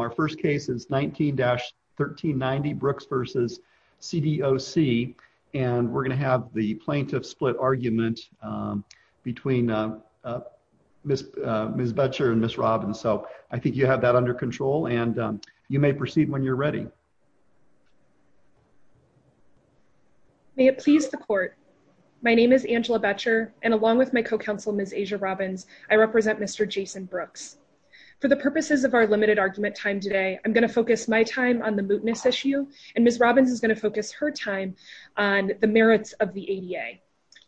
Our first case is 19-1390 Brooks v. CDOC and we're going to have the plaintiff split argument between Ms. Boettcher and Ms. Robbins. So I think you have that under control and you may proceed when you're ready. May it please the court. My name is Angela Boettcher and along with my co-counsel Ms. I'm going to focus my time on the mootness issue and Ms. Robbins is going to focus her time on the merits of the ADA.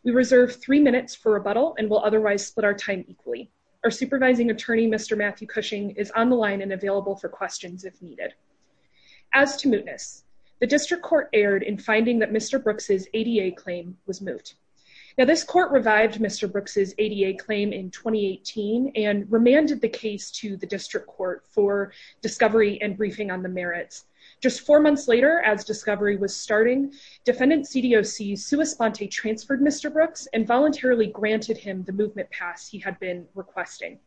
We reserve three minutes for rebuttal and will otherwise split our time equally. Our supervising attorney Mr. Matthew Cushing is on the line and available for questions if needed. As to mootness, the district court erred in finding that Mr. Brooks' ADA claim was moot. Now this court revived Mr. Brooks' ADA claim in 2018 and remanded the case to the district court for discovery and briefing on the merits. Just four months later as discovery was starting, defendant CDOC Sua Sponte transferred Mr. Brooks and voluntarily granted him the movement pass he had been requesting.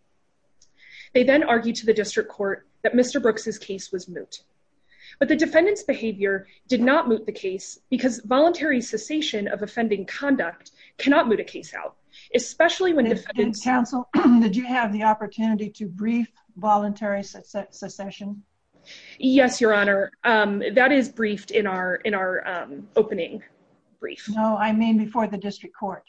They then argued to the district court that Mr. Brooks' case was moot. But the defendant's behavior did not moot the case because voluntary cessation of offending conduct cannot moot a case out, especially when defendants- voluntary secession? Yes, your honor. That is briefed in our opening brief. No, I mean before the district court.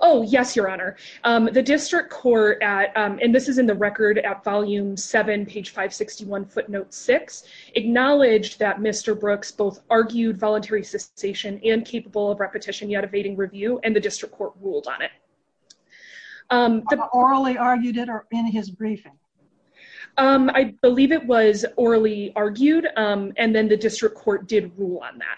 Oh yes, your honor. The district court at, and this is in the record at volume 7 page 561 footnote 6, acknowledged that Mr. Brooks both argued voluntary cessation and capable of repetition yet evading review and the district court ruled on it. Orally argued it in his briefing? I believe it was orally argued and then the district court did rule on that.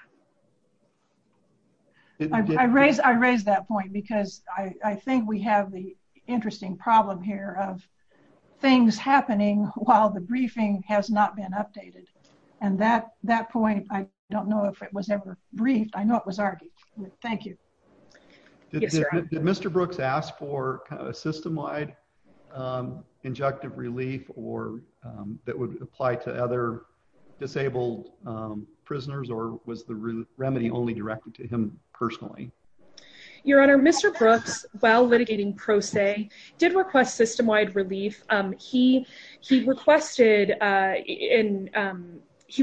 I raised that point because I think we have the interesting problem here of things happening while the briefing has not been updated. And that point, I don't know if it was ever briefed. I know it was argued. Thank you. Did Mr. Brooks ask for kind of a system-wide injunctive relief or that would apply to other disabled prisoners or was the remedy only directed to him personally? Your honor, Mr. Brooks, while litigating pro se, did request system-wide relief. He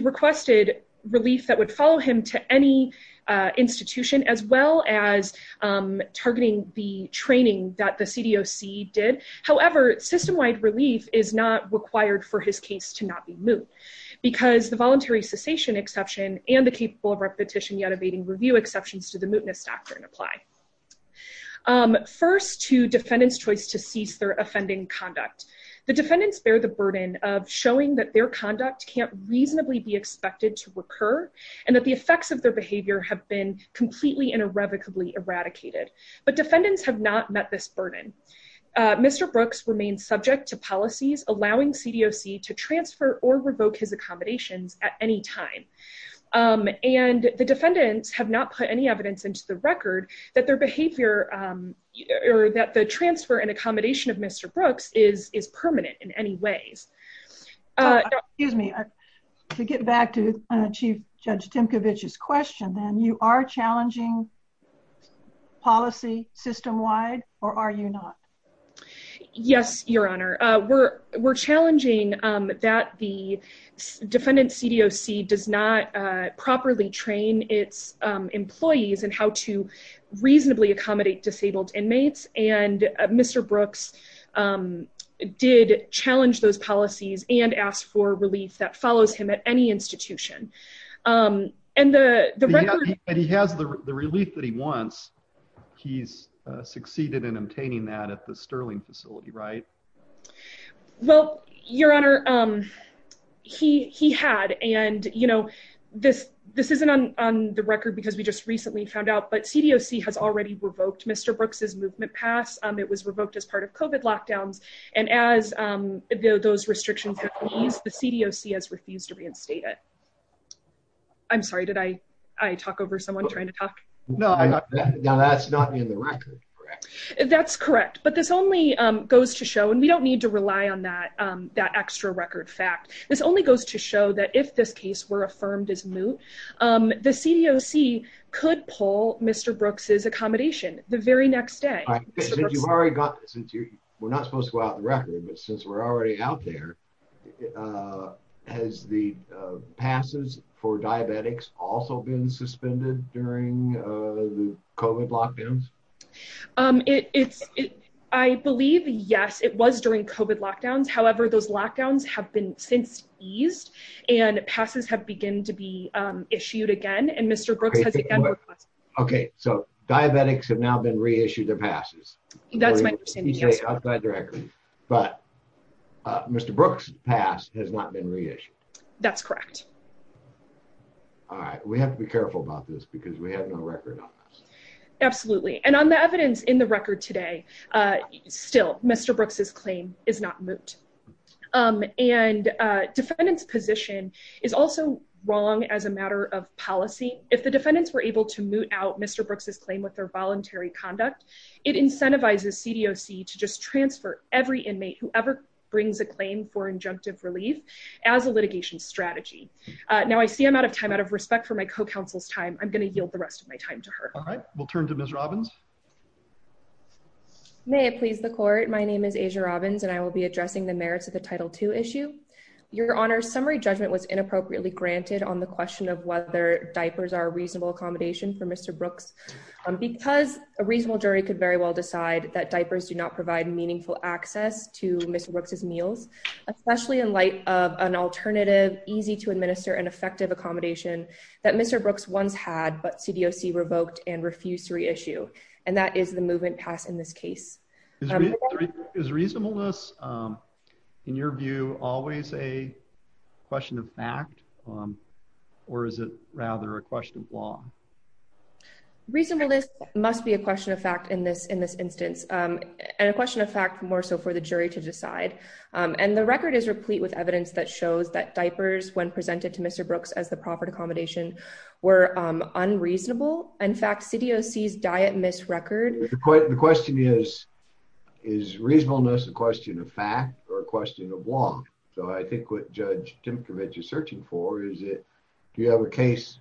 requested relief that would follow him to any is not required for his case to not be moot because the voluntary cessation exception and the capable of repetition yet evading review exceptions to the mootness doctrine apply. First to defendant's choice to cease their offending conduct. The defendants bear the burden of showing that their conduct can't reasonably be expected to recur and that the effects of their behavior have been completely and irrevocably eradicated. But defendants have not met this burden. Mr. Brooks remains subject to policies allowing CDOC to transfer or revoke his accommodations at any time. And the defendants have not put any evidence into the record that their behavior or that the transfer and accommodation of Mr. Brooks is permanent in any ways. Excuse me. To get back to Chief Judge Timkovich's question, then, you are challenging policy system-wide or are you not? Yes, your honor. We're challenging that the defendant's CDOC does not properly train its employees in how to reasonably accommodate disabled inmates. And Mr. Brooks did challenge those policies and asked for relief that follows him at any institution. And he has the relief that he wants. He's succeeded in obtaining that at the Sterling facility, right? Well, your honor, he had. And, you know, this isn't on the record because we just recently found out, but CDOC has already revoked Mr. Brooks's movement pass. It was revoked as part of COVID lockdowns. And as those restrictions have eased, the CDOC has refused to reinstate it. I'm sorry, did I talk over someone trying to talk? No, that's not in the record, correct? That's correct. But this only goes to show, and we don't need to rely on that extra record fact, this only goes to show that if this case were affirmed as moot, the CDOC could pull Mr. Brooks's accommodation the very next day. You've already got this. We're not has the passes for diabetics also been suspended during the COVID lockdowns? I believe, yes, it was during COVID lockdowns. However, those lockdowns have been since eased and passes have begun to be issued again. And Mr. Brooks has again requested. Okay. So diabetics have now been reissued their passes. That's my understanding. Correct. But Mr. Brooks pass has not been reissued. That's correct. All right. We have to be careful about this because we have no record on this. Absolutely. And on the evidence in the record today, still Mr. Brooks's claim is not moot. And defendant's position is also wrong as a matter of policy. If the defendants were able to moot out Mr. Brooks's claim with their voluntary conduct, it incentivizes CDOC to just transfer every inmate who ever brings a claim for injunctive relief as a litigation strategy. Now I see I'm out of time out of respect for my co-counsel's time. I'm going to yield the rest of my time to her. All right. We'll turn to Ms. Robbins. May it please the court. My name is Asia Robbins and I will be addressing the merits of the title two issue. Your honor summary judgment was inappropriately granted on the question of diapers are reasonable accommodation for Mr. Brooks because a reasonable jury could very well decide that diapers do not provide meaningful access to Mr. Brooks's meals, especially in light of an alternative, easy to administer and effective accommodation that Mr. Brooks once had, but CDOC revoked and refused to reissue. And that is the movement pass in this case. Is reasonableness in your view always a or is it rather a question of law? Reasonableness must be a question of fact in this, in this instance and a question of fact, more so for the jury to decide. And the record is replete with evidence that shows that diapers, when presented to Mr. Brooks as the proper accommodation were unreasonable. In fact, CDOC's diet miss record. The question is, is reasonableness a question of fact or a question of law? So I think what Judge Dimitrovich is searching for, is it, do you have a case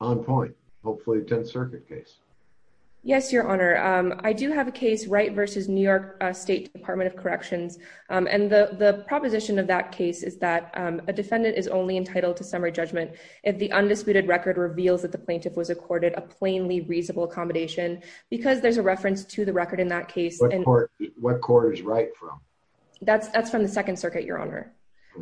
on point? Hopefully 10th circuit case. Yes, your honor. I do have a case right versus New York state department of corrections. And the proposition of that case is that a defendant is only entitled to summary judgment. If the undisputed record reveals that the plaintiff was accorded a plainly reasonable accommodation, because there's a reference to the record in that case. What court is right from? That's, that's from the second circuit, your honor.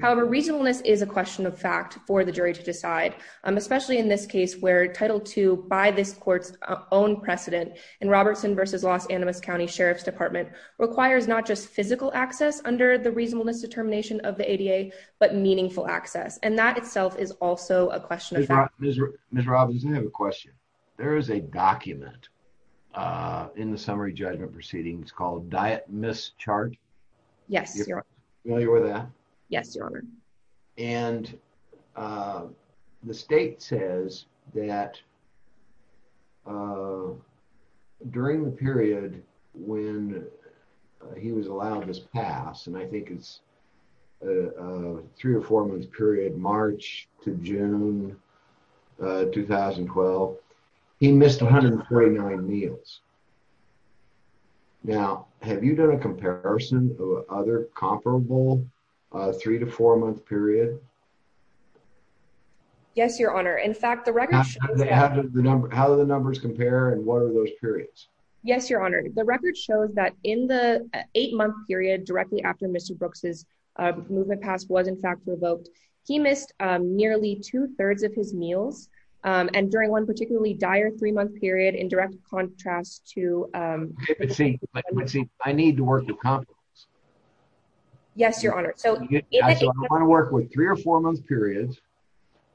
However, reasonableness is a question of fact for the jury to decide, especially in this case where title two by this court's own precedent and Robertson versus Los Animas County Sheriff's department requires not just physical access under the reasonableness determination of the ADA, but meaningful access. And that itself is also a question. Mr. Robbins, I have a question. There is a document, uh, in the summary judgment proceedings called diet mischarge. Yes, you're familiar with that. Yes, your honor. And, uh, the state says that, uh, during the period when he was allowed in his past, and I think it's a three or four month period, March to June, uh, 2012, he missed 149 meals. Now, have you done a comparison or other comparable, uh, three to four month period? Yes, your honor. In fact, the record, how do the numbers compare and what are those periods? Yes, your honor. The record shows that in the eight month period directly after Mr. Brooks's, uh, movement past was in fact revoked. He missed, um, nearly two thirds of his meals. Um, and during one particularly dire three month period in direct contrast to, um, I need to work with confidence. Yes, your honor. So I want to work with three or four months periods,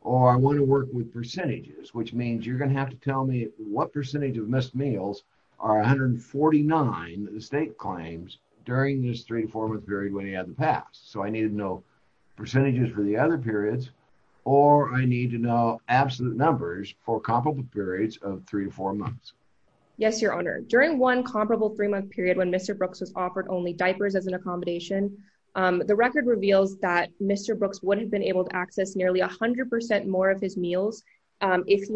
or I want to work with percentages, which means you're going to have to tell me what percentage of missed meals are 149 that the state claims during this three, four month period when he had the past. So I needed to know percentages for the other periods or I need to know absolute numbers for comparable periods of three or four months. Yes, your honor. During one comparable three month period, when Mr. Brooks was offered only diapers as an accommodation, um, the record reveals that Mr. Brooks would have been able to access nearly a half of his meals if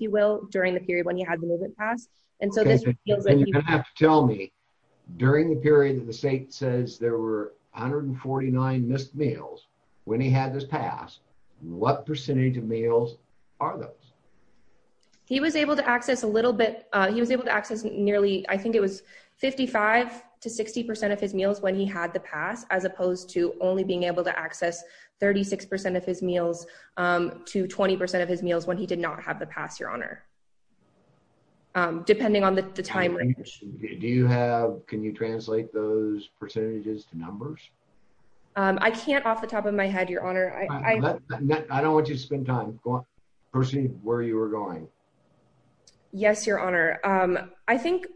you will, during the period when he had the movement past. And so this tells me during the period that the state says there were 149 missed meals when he had this past, what percentage of meals are those? He was able to access a little bit. He was able to access nearly, I think it was 55 to 60% of his meals when he had the past, as opposed to only being able to access 36% of his meals, um, to 20% of his meals when he did not have the past your honor. Um, depending on the time range. Do you have, can you translate those percentages to numbers? Um, I can't off the top of my head, your honor. I don't want to spend time pursuing where you were going. Yes, your honor. Um, I think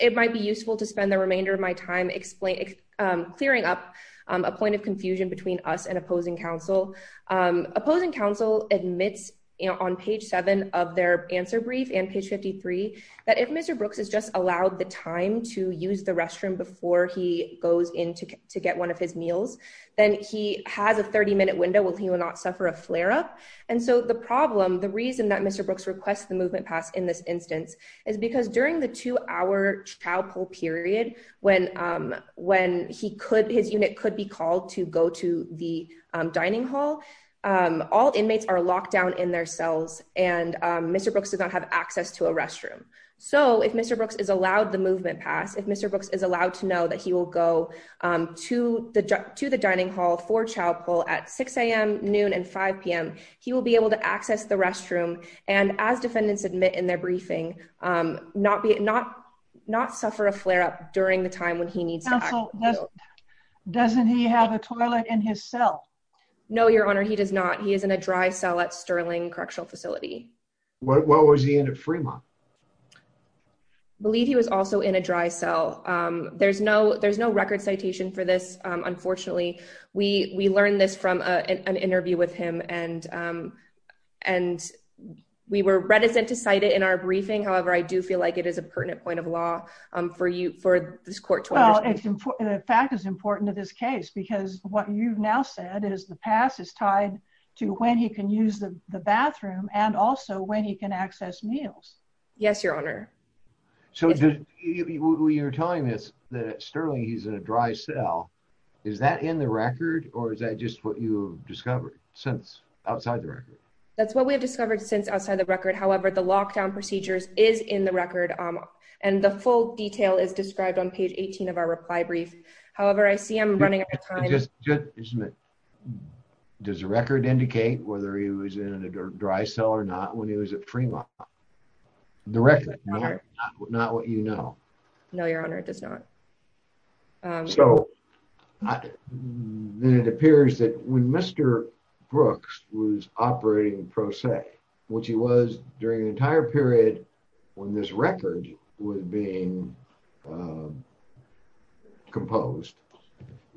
it might be useful to spend the remainder of my time explaining, um, clearing up, um, a point of confusion between us and opposing council, um, opposing council admits on page seven of their answer brief and page 53, that if Mr. Brooks has just allowed the time to use the restroom before he goes into to get one his meals, then he has a 30 minute window where he will not suffer a flare up. And so the problem, the reason that Mr. Brooks requests the movement pass in this instance is because during the two hour trial poll period, when, um, when he could, his unit could be called to go to the dining hall. Um, all inmates are locked down in their cells and, um, Mr. Brooks does not have access to a restroom. So if Mr. Brooks is allowed the movement pass, if Mr. Brooks is allowed to know that he will go, um, to the, to the dining hall for child poll at 6am noon and 5pm, he will be able to access the restroom. And as defendants admit in their briefing, um, not be, not, not suffer a flare up during the time when he needs. Doesn't he have a toilet in his cell? No, your honor, he does not. He is in a dry cell at Sterling correctional facility. What was he in at Fremont? I believe he was also in a dry cell. Um, there's no, there's no record citation for this. Um, unfortunately we, we learned this from a, an interview with him and, um, and we were reticent to cite it in our briefing. However, I do feel like it is a pertinent point of law, um, for you, for this court to understand. The fact is important to this case, because what you've now said is the pass is tied to when he can use the bathroom and also when he can access meals. Yes, your honor. So you're telling us that Sterling, he's in a dry cell. Is that in the record or is that just what you discovered since outside the record? That's what we have discovered since outside the record. However, the lockdown procedures is in the record. Um, and the full detail is described on page 18 of our reply brief. However, I see him running. Isn't it, does the record indicate whether he was in a dry cell or not when he was at Fremont? The record, not what you know. No, your honor, it does not. Um, so then it appears that when Mr. Brooks was operating in Pro Se, which he was during the entire period when this record was being, um, composed,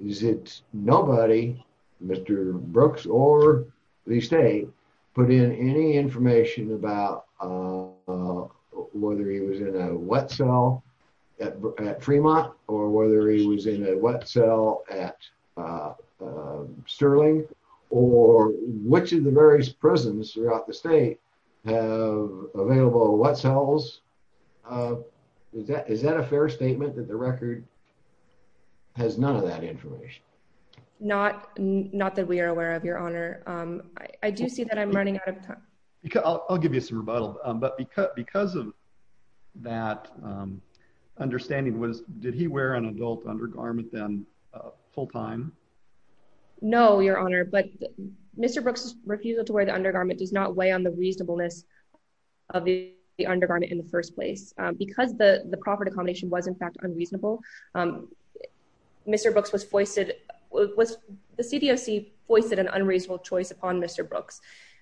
is it nobody, Mr. Brooks or the state put in any information about, uh, whether he was in a wet cell at Fremont or whether he was in a wet cell at, uh, uh, Sterling or which of the various prisons throughout the state have available wet cells? Uh, is that, is that a fair statement that the record has none of that information? Not, not that we are aware of your honor. Um, I do see that I'm running out of time. Because I'll, I'll give you some rebuttal. Um, but because, because of that, um, understanding was, did he wear an adult undergarment then, uh, full time? No, your honor. But Mr. Brooks' refusal to wear the undergarment does not weigh on the reasonableness of the undergarment in the first place. Um, because the, the proper accommodation was in fact unreasonable, um, Mr. Brooks was foisted, was the CDOC foisted an unreasonable choice upon Mr. Brooks.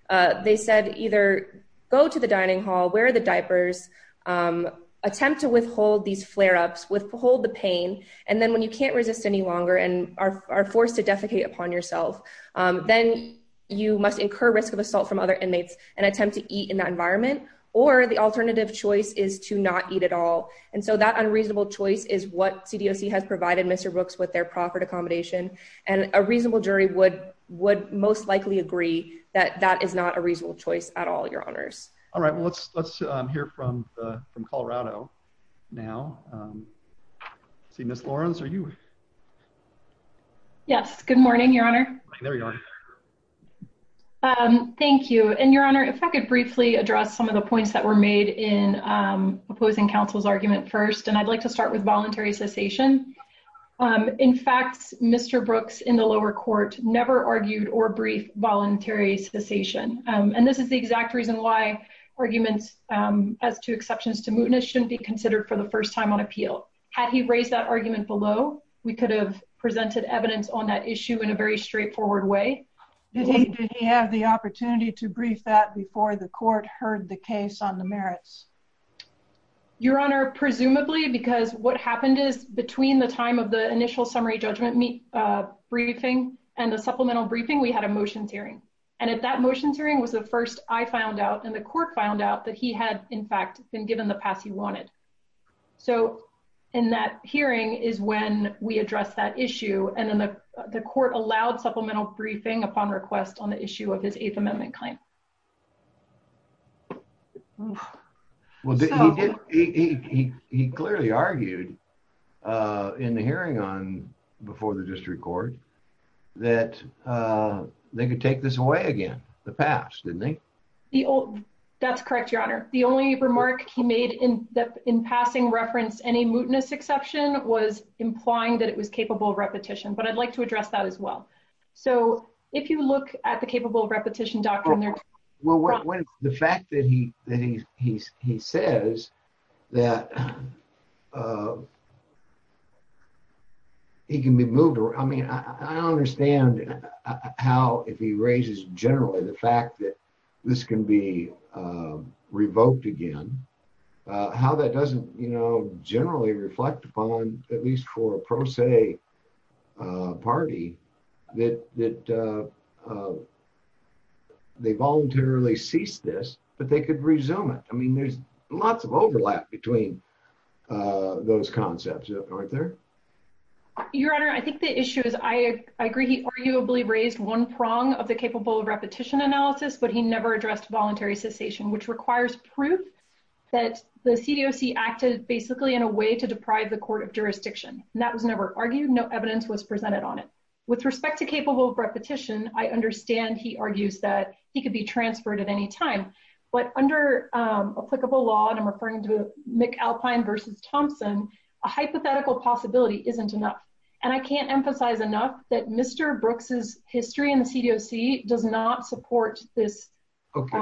Uh, they said either go to the dining hall, wear the diapers, um, attempt to withhold these flare-ups, withhold the pain. And then when you can't resist any longer and are forced to defecate upon yourself, um, then you must incur risk of assault from other inmates and attempt to eat in that environment. Or the alternative choice is to not eat at all. And so that unreasonable choice is what CDOC has provided Mr. Brooks with their proper accommodation. And a reasonable jury would, would most likely agree that that is not a reasonable choice at all, your honors. All right. Well, let's, let's, um, hear from, uh, from Colorado now. Um, see Ms. Lawrence, are you? Yes. Good morning, your honor. Um, thank you. And your honor, if I could briefly address some of the points that were made in, um, opposing counsel's argument first, and I'd like to start with voluntary cessation. Um, in fact, Mr. Brooks in the lower court never argued or briefed voluntary cessation. Um, and this is the exact reason why arguments, um, as to exceptions to mootness shouldn't be considered for the first time on appeal. Had he raised that argument below, we could have presented evidence on that issue in a very straightforward way. Did he have the opportunity to brief that before the court heard the case on the merits? Your honor, presumably because what happened is between the time of the initial summary judgment meet, uh, briefing and the supplemental briefing, we had a motions hearing. And at that motions hearing was the first I found out and the court found out that he had in fact been given the pass he wanted. So in that hearing is when we address that issue. And then the, the court allowed supplemental briefing upon request on the issue of his eighth amendment claim. Well, he, he, he, he clearly argued, uh, in the hearing on before the district court that, uh, they could take this away again. The past didn't think that's correct. Your honor. The only remark he made in that in passing reference, any mootness exception was implying that it was capable of repetition, but I'd like to address that as well. So if you look at the capable of repetition doctrine there, the fact that he, that he, he, he says that, uh, he can be moved around. I mean, I don't understand how, if he raises generally the fact that this can be, uh, revoked again, uh, how that doesn't, you know, generally reflect upon at least for a say, uh, party that, that, uh, uh, they voluntarily cease this, but they could resume it. I mean, there's lots of overlap between, uh, those concepts aren't there. Your honor. I think the issue is I, I agree. He arguably raised one prong of the capable of repetition analysis, but he never addressed voluntary cessation, which requires proof that the CDOC acted basically in a way to deprive the court of jurisdiction. And that was never argued. No evidence was presented on it with respect to capable repetition. I understand. He argues that he could be transferred at any time, but under, um, applicable law and I'm referring to McAlpine versus Thompson, a hypothetical possibility isn't enough. And I can't emphasize enough that Mr. Brooks's history in the CDOC does not support this. Okay.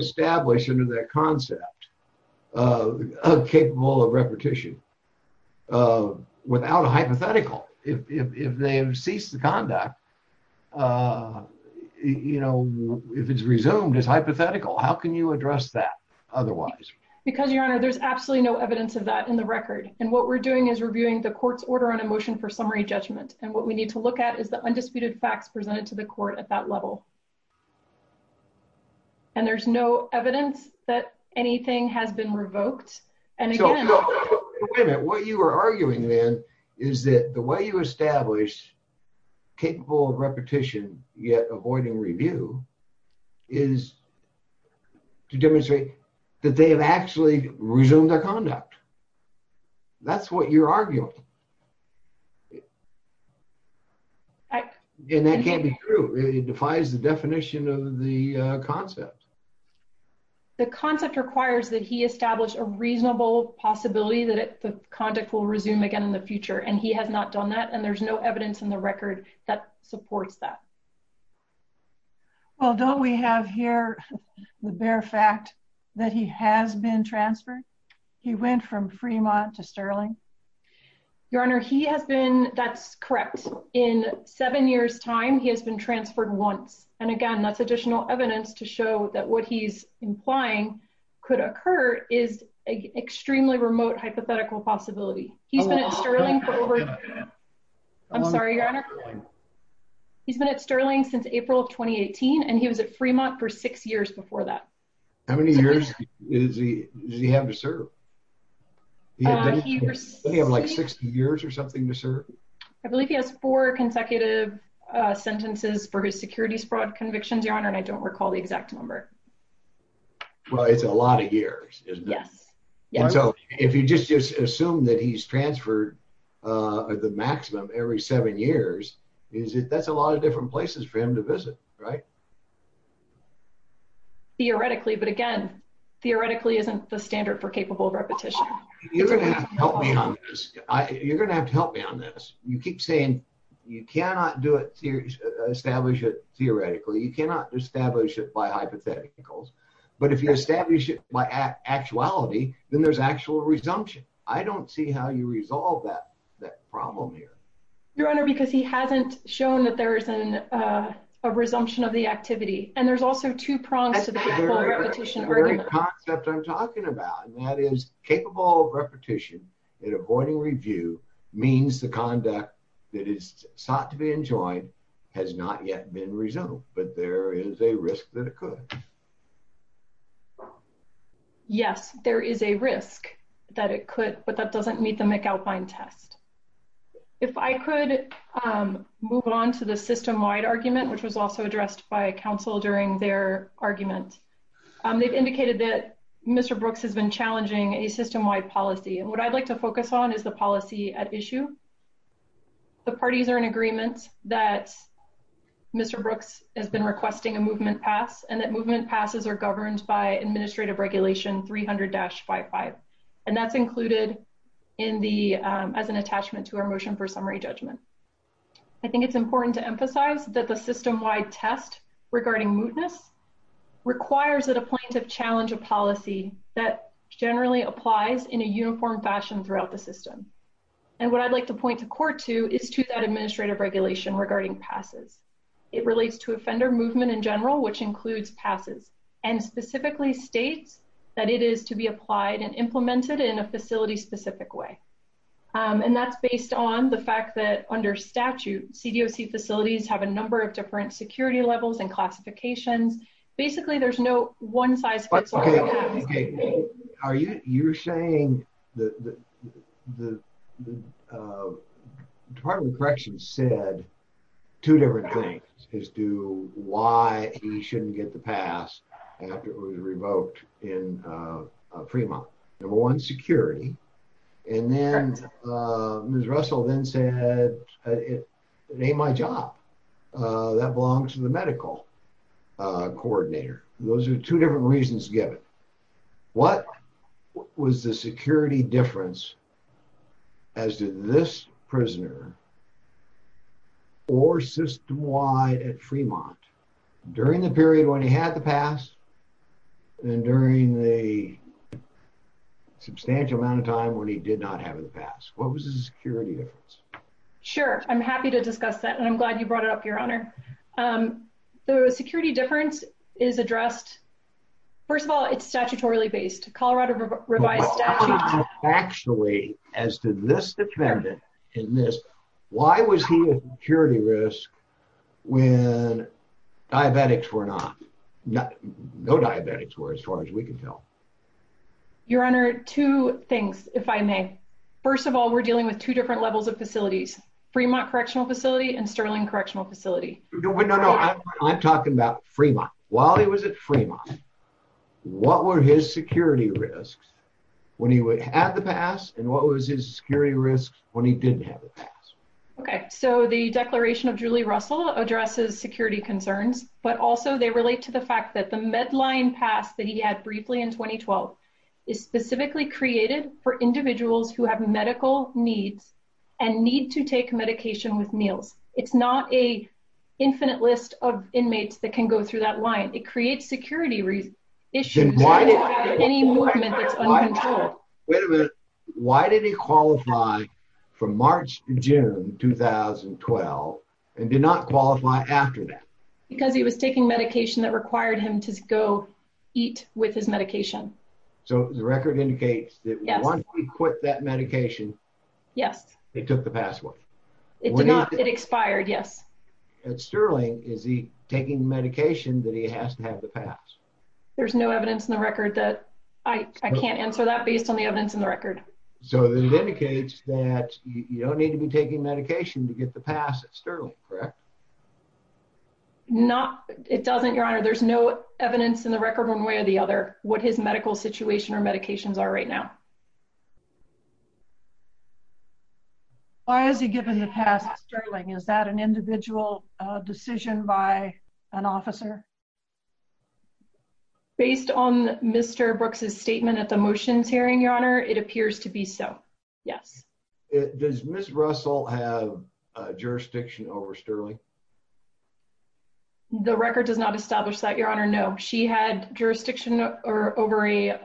Establish into that concept, uh, capable of repetition, uh, without a hypothetical, if, if, if they have ceased the conduct, uh, you know, if it's resumed as hypothetical, how can you address that otherwise? Because your honor, there's absolutely no evidence of that in the record. And what we're doing is reviewing the court's order on emotion for summary judgment. And what we need to look at is the undisputed facts presented to the court at that level. And there's no evidence that anything has been revoked. And again, what you were arguing then is that the way you establish capable of repetition, yet avoiding review is to demonstrate that they have actually resumed their conduct. That's what you're arguing. And that can't be true. It defies the definition of the concept. The concept requires that he established a reasonable possibility that the conduct will resume again in the future. And he has not done that. And there's no evidence in the record that supports that. Well, don't we have here the bare fact that he has been transferred? He went from Fremont to Sterling. Your honor, he has been, that's correct. In seven years time, he has been transferred once. And again, that's additional evidence to show that what he's implying could occur is extremely remote hypothetical possibility. He's been at Sterling for over, I'm sorry, your honor. He's been at Sterling since April of 2018. And he was at Fremont for six years before that. How many years does he have to serve? Does he have like 60 years or something to serve? I believe he has four consecutive sentences for his securities fraud convictions, your honor. And I don't recall the exact number. Well, it's a lot of years, isn't it? Yes. And so if you just assume that he's transferred the maximum every seven years, that's a lot of different places for him to visit, right? Theoretically, but again, theoretically isn't the standard for capable repetition. You're going to have to help me on this. You're going to have to help me on this. You keep saying you cannot do it, establish it theoretically. You cannot establish it by hypotheticals. But if you establish it by actuality, then there's actual resumption. I don't see how you resolve that that problem here. Your honor, because he hasn't shown that there is a resumption of the actual activity. And there's also two prongs to the whole repetition argument. That's the very concept I'm talking about. And that is capable of repetition and avoiding review means the conduct that is sought to be enjoined has not yet been resolved, but there is a risk that it could. Yes, there is a risk that it could, but that doesn't meet the McAlpine test. If I could move on to the system-wide argument, which was also addressed by council during their argument, they've indicated that Mr. Brooks has been challenging a system-wide policy. And what I'd like to focus on is the policy at issue. The parties are in agreement that Mr. Brooks has been requesting a movement pass and that movement passes are governed by administrative regulation 300-55. And that's included as an attachment to our motion for summary judgment. I think it's important to note that the system-wide test regarding mootness requires that a plaintiff challenge a policy that generally applies in a uniform fashion throughout the system. And what I'd like to point to court to is to that administrative regulation regarding passes. It relates to offender movement in general, which includes passes and specifically states that it is to be applied and implemented in a facility-specific way. And that's based on the fact that under different security levels and classifications, basically there's no one-size-fits-all. Are you saying that the Department of Corrections said two different things as to why he shouldn't get the pass after it was revoked in Fremont. Number one, security. And then Ms. Russell then it ain't my job. That belongs to the medical coordinator. Those are two different reasons given. What was the security difference as to this prisoner or system-wide at Fremont during the period when he had the pass and during the substantial amount of time when he did not have the pass? What was the security difference? Sure. I'm happy to discuss that and I'm glad you brought it up, Your Honor. The security difference is addressed. First of all, it's statutorily based. Colorado revised statute. Actually, as to this defendant in this, why was he at security risk when diabetics were not? No diabetics were as far as we can tell. Your Honor, two things, if I may. First of all, we're dealing with two different levels of facilities. Fremont Correctional Facility and Sterling Correctional Facility. No, no, no. I'm talking about Fremont. While he was at Fremont, what were his security risks when he had the pass and what was his security risk when he didn't have the pass? Okay. So the declaration of Julie Russell addresses security concerns, but also they relate to the fact that the Medline Pass that he had briefly in 2012 is specifically created for individuals who have medical needs and need to take medication with meals. It's not a infinite list of inmates that can go through that line. It creates security issues with any movement that's uncontrolled. Wait a minute. Why did he qualify from March to June 2012 and did not qualify after that? Because he was taking medication that required him to go eat with his medication. So the record indicates that once he quit that medication, yes, it took the password. It did not. It expired. Yes. At Sterling, is he taking medication that he has to have the pass? There's no evidence in the record that I can't answer that based on the evidence in the record. So this indicates that you don't need to be taking medication to get the pass at Sterling, correct? No, it doesn't, Your Honor. There's no evidence in the record one way or the other what his medical situation or medications are right now. Why has he given the pass at Sterling? Is that an individual decision by an officer? Based on Mr. Brooks's statement at the motions hearing, Your Honor, it appears to be so. Yes. Does Ms. Russell have jurisdiction over Sterling? The record does not establish that, Your Honor. No, she had jurisdiction over a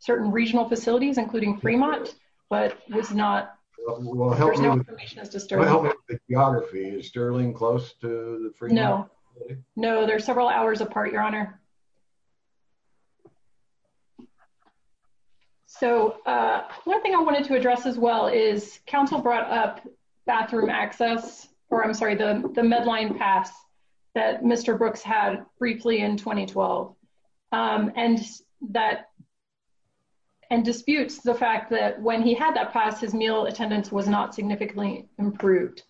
certain regional facilities, including Fremont, but there's no information as to Sterling. Is Sterling close to Fremont? No, there's several hours apart, Your Honor. So, one thing I wanted to address as well is counsel brought up bathroom access, or I'm sorry, the Medline pass that Mr. Brooks had briefly in 2012, and disputes the fact that when he had that pass, his meal attendance was not significantly improved.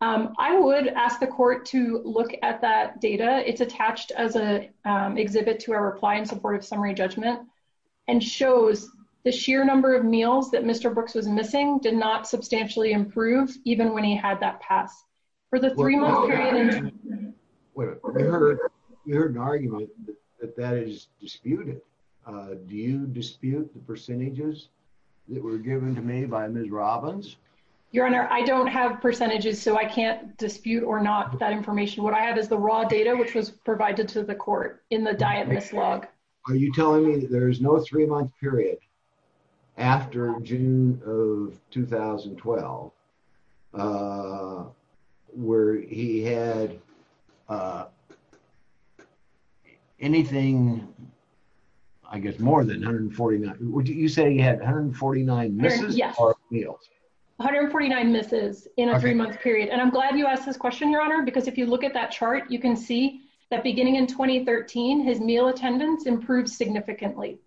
I would ask the court to look at that data. It's attached as an exhibit to our reply in support of summary judgment and shows the sheer number of meals that Mr. Brooks was missing did not substantially improve even when he had that pass. There's an argument that that is disputed. Do you dispute the percentages that were given to me by Ms. Robbins? Your Honor, I don't have percentages, so I can't What I have is the raw data, which was provided to the court in the diet miss log. Are you telling me there's no three-month period after June of 2012 where he had anything, I guess, more than 149? Would you say he had 149 misses? Yes, 149 misses in a three-month period, and I'm glad you asked this question, Your Honor, because if you look at that chart, you can see that beginning in 2013, his meal attendance improved significantly,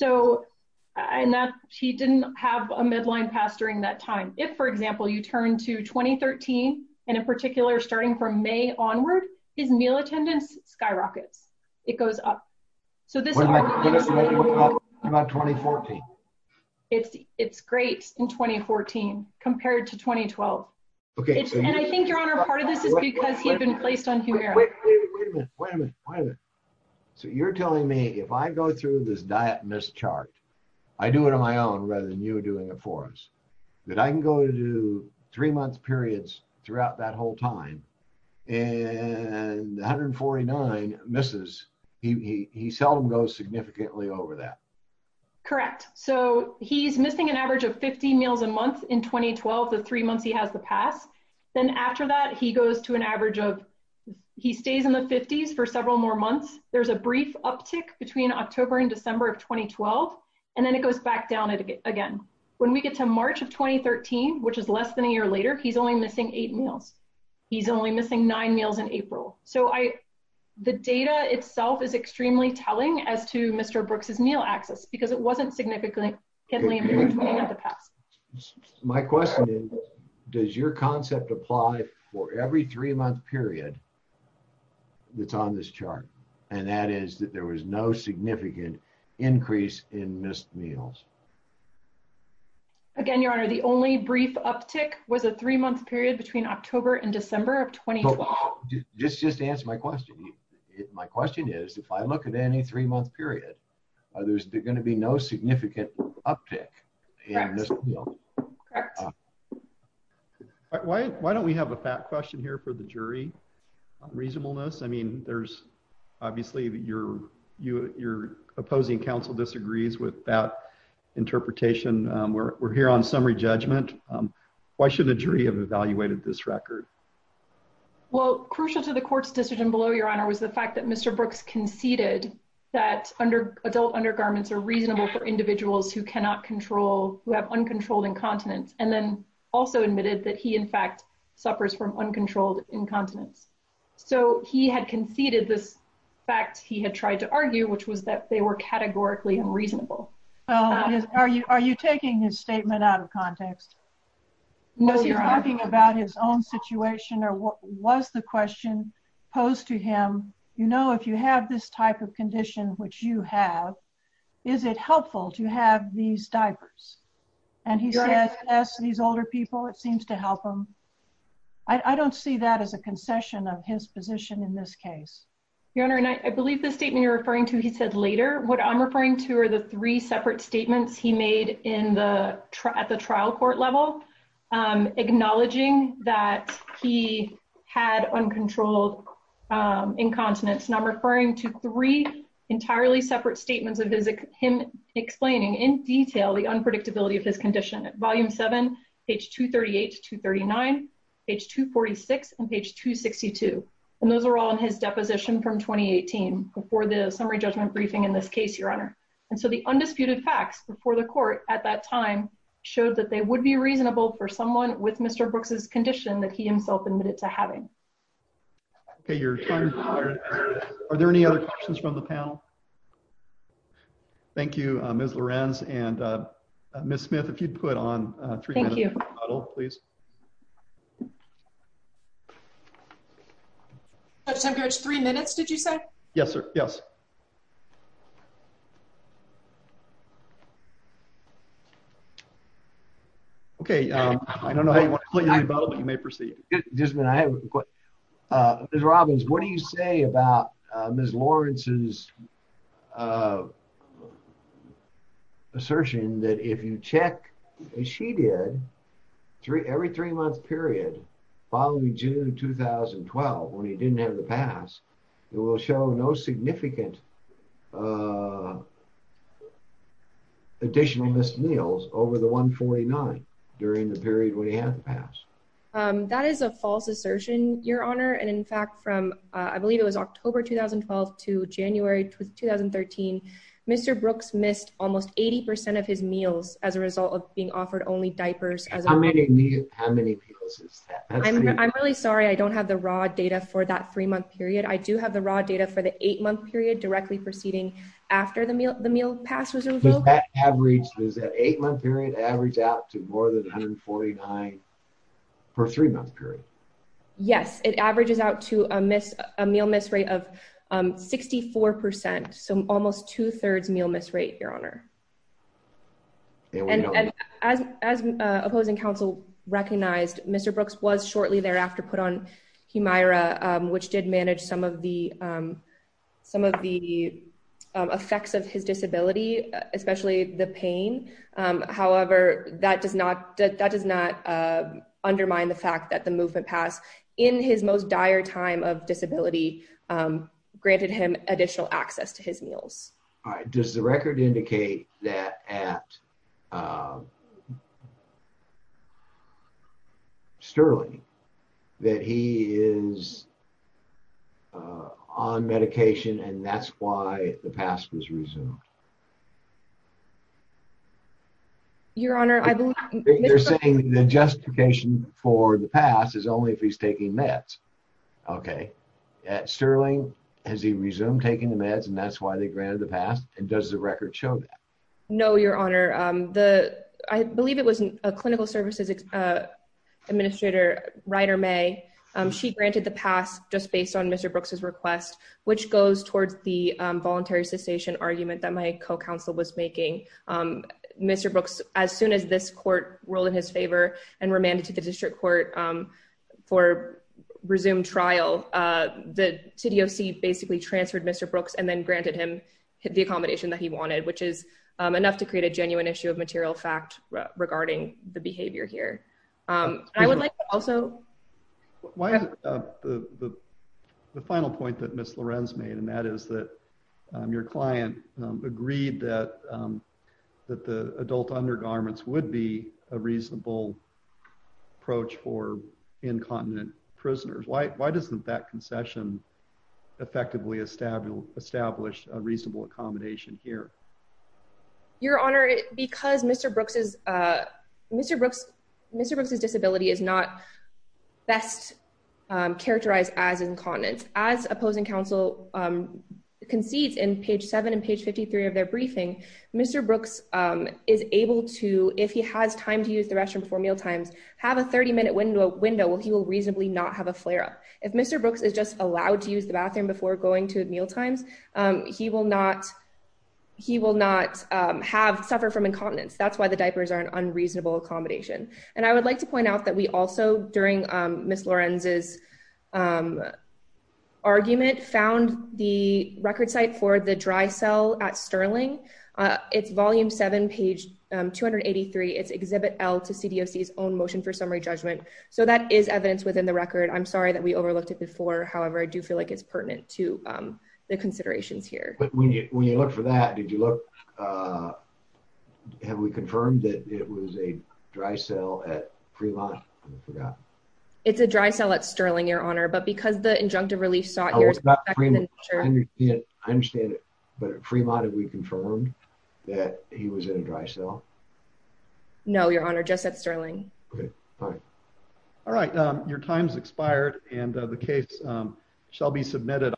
and that he didn't have a Medline pass during that time. If, for example, you turn to 2013, and in particular, starting from May onward, his meal attendance skyrockets. It goes up. What does it look like in 2014? It's great in 2014 compared to 2012, and I think, Your Honor, part of this is because he had been placed on Humira. Wait a minute. Wait a minute. Wait a minute. You're telling me if I go through this diet miss chart, I do it on my own rather than you doing it for us, that I can go to three-month periods throughout that whole time, and 149 misses. He seldom goes significantly over that. Correct. He's missing an average of 50 meals a month in 2012, the three months he has the pass. Then after that, he stays in the 50s for several more months. There's a brief uptick between October and December of 2012, and then it goes back down again. When we get to March of 2013, which is less than a year later, he's only missing eight meals. He's only missing nine meals in April. The data itself is extremely telling as to Mr. Brooks' meal access because it wasn't significantly between the past. My question is, does your concept apply for every three-month period that's on this chart, and that is that there was no significant increase in missed meals? Again, Your Honor, the only brief uptick was a three-month period between October and December of 2012. Just answer my question. My question is, if I look at any three-month period, there's going to be no significant uptick in missed meals. Correct. Why don't we have a fact question here for the jury on reasonableness? Obviously, your opposing counsel disagrees with that interpretation. We're here on summary judgment. Why shouldn't a jury have evaluated this record? Well, crucial to the court's decision below, was the fact that Mr. Brooks conceded that adult undergarments are reasonable for individuals who have uncontrolled incontinence, and then also admitted that he, in fact, suffers from uncontrolled incontinence. He had conceded this fact he had tried to argue, which was that they were categorically unreasonable. Are you taking his statement out of context? No, Your Honor. Were you talking about his own situation, or was the question posed to him, you know, if you have this type of condition, which you have, is it helpful to have these diapers? And he said, yes, these older people, it seems to help them. I don't see that as a concession of his position in this case. Your Honor, and I believe the statement you're referring to, he said later. What I'm referring to are the three separate statements he made at the trial court level, acknowledging that he had uncontrolled incontinence. And I'm referring to three entirely separate statements of him explaining in detail the unpredictability of his condition. Volume 7, page 238 to 239, page 246, and page 262. And those are all in his deposition from 2018, before the summary judgment briefing in this case, Your Honor. And so the undisputed facts before the court at that time showed that they would be reasonable for someone with Mr. Brooks's condition that he himself admitted to having. Okay. Are there any other questions from the panel? Thank you, Ms. Lorenz. And Ms. Smith, if you'd put on a three-minute model, please. Judge Tempkowitz, three minutes, did you say? Yes, sir. Yes. Okay. I don't know how you want to put your model, but you may proceed. Ms. Robbins, what do you say about Ms. Lorenz's assertion that if you check, as she did, every three-month period following June 2012, when he didn't have the pass, it will show no significant additional missed meals over the 149 during the period when he had the pass? That is a false assertion, Your Honor. And in fact, from, I believe it was October 2012 to January 2013, Mr. Brooks missed almost 80% of his meals as a result of being offered only diapers. How many meals? How many meals is that? I'm really sorry. I don't have the raw data for that three-month period. I do have the raw data for the eight-month period directly proceeding after the meal pass was revoked. Does that average, does that eight-month period average out to more than 149 for a three-month period? Yes, it averages out to a meal miss rate of 64%, so almost two-thirds meal miss rate, Your Honor. And as opposing counsel recognized, Mr. Brooks was shortly thereafter put on Hemira, which did manage some of the effects of his disability, especially the pain. However, that does not undermine the fact that the movement pass in his most dire time of disability granted him additional access to his meals. All right. Does the record indicate that at Sterling, that he is on medication and that's why the pass was resumed? Your Honor, I believe- They're saying the justification for the pass is only if he's taking meds. Okay. At Sterling, has he resumed taking the meds and that's why they granted the pass? And does the record show that? No, Your Honor. I believe it was a clinical services administrator, Ryder May. She granted the pass just based on Mr. Brooks' request, which goes towards the voluntary cessation argument that my co-counsel was making. Mr. Brooks, as soon as this court rolled in his favor and remanded to the district court for resumed trial, the CDOC basically transferred Mr. Brooks and then granted him the accommodation that he wanted, which is enough to create a genuine issue of material fact regarding the behavior here. I would like to also- The final point that Ms. Lorenz made, and that is that your client agreed that the adult undergarments would be a reasonable approach for incontinent prisoners. Why doesn't that concession effectively establish a reasonable accommodation here? Your Honor, because Mr. Brooks' disability is not best characterized as incontinent. As opposing counsel concedes in page 7 and page 53 of their briefing, Mr. Brooks is able to, if he has time to use the restroom before mealtimes, have a 30-minute window where he will reasonably not have a flare-up. If Mr. Brooks is just allowed to use the bathroom before going to mealtimes, he will not suffer from incontinence. That's why the diapers are an unreasonable accommodation. And I would like to point out that we also, during Ms. Lorenz's argument, found the record site for the dry cell at Sterling. It's volume 7, page 283. It's Exhibit L to CDOC's own motion for summary judgment. So that is evidence within the record. I'm sorry that we overlooked it before. However, I do feel like it's pertinent to the considerations here. But when you look for that, did you look, have we confirmed that it was a dry cell at Fremont? I forgot. It's a dry cell at Sterling, Your Honor, but because the injunctive relief sought here is I understand it, but at Fremont have we confirmed that he was in a dry cell? No, Your Honor, just at Sterling. Okay, all right. Your time's expired and the case shall be submitted.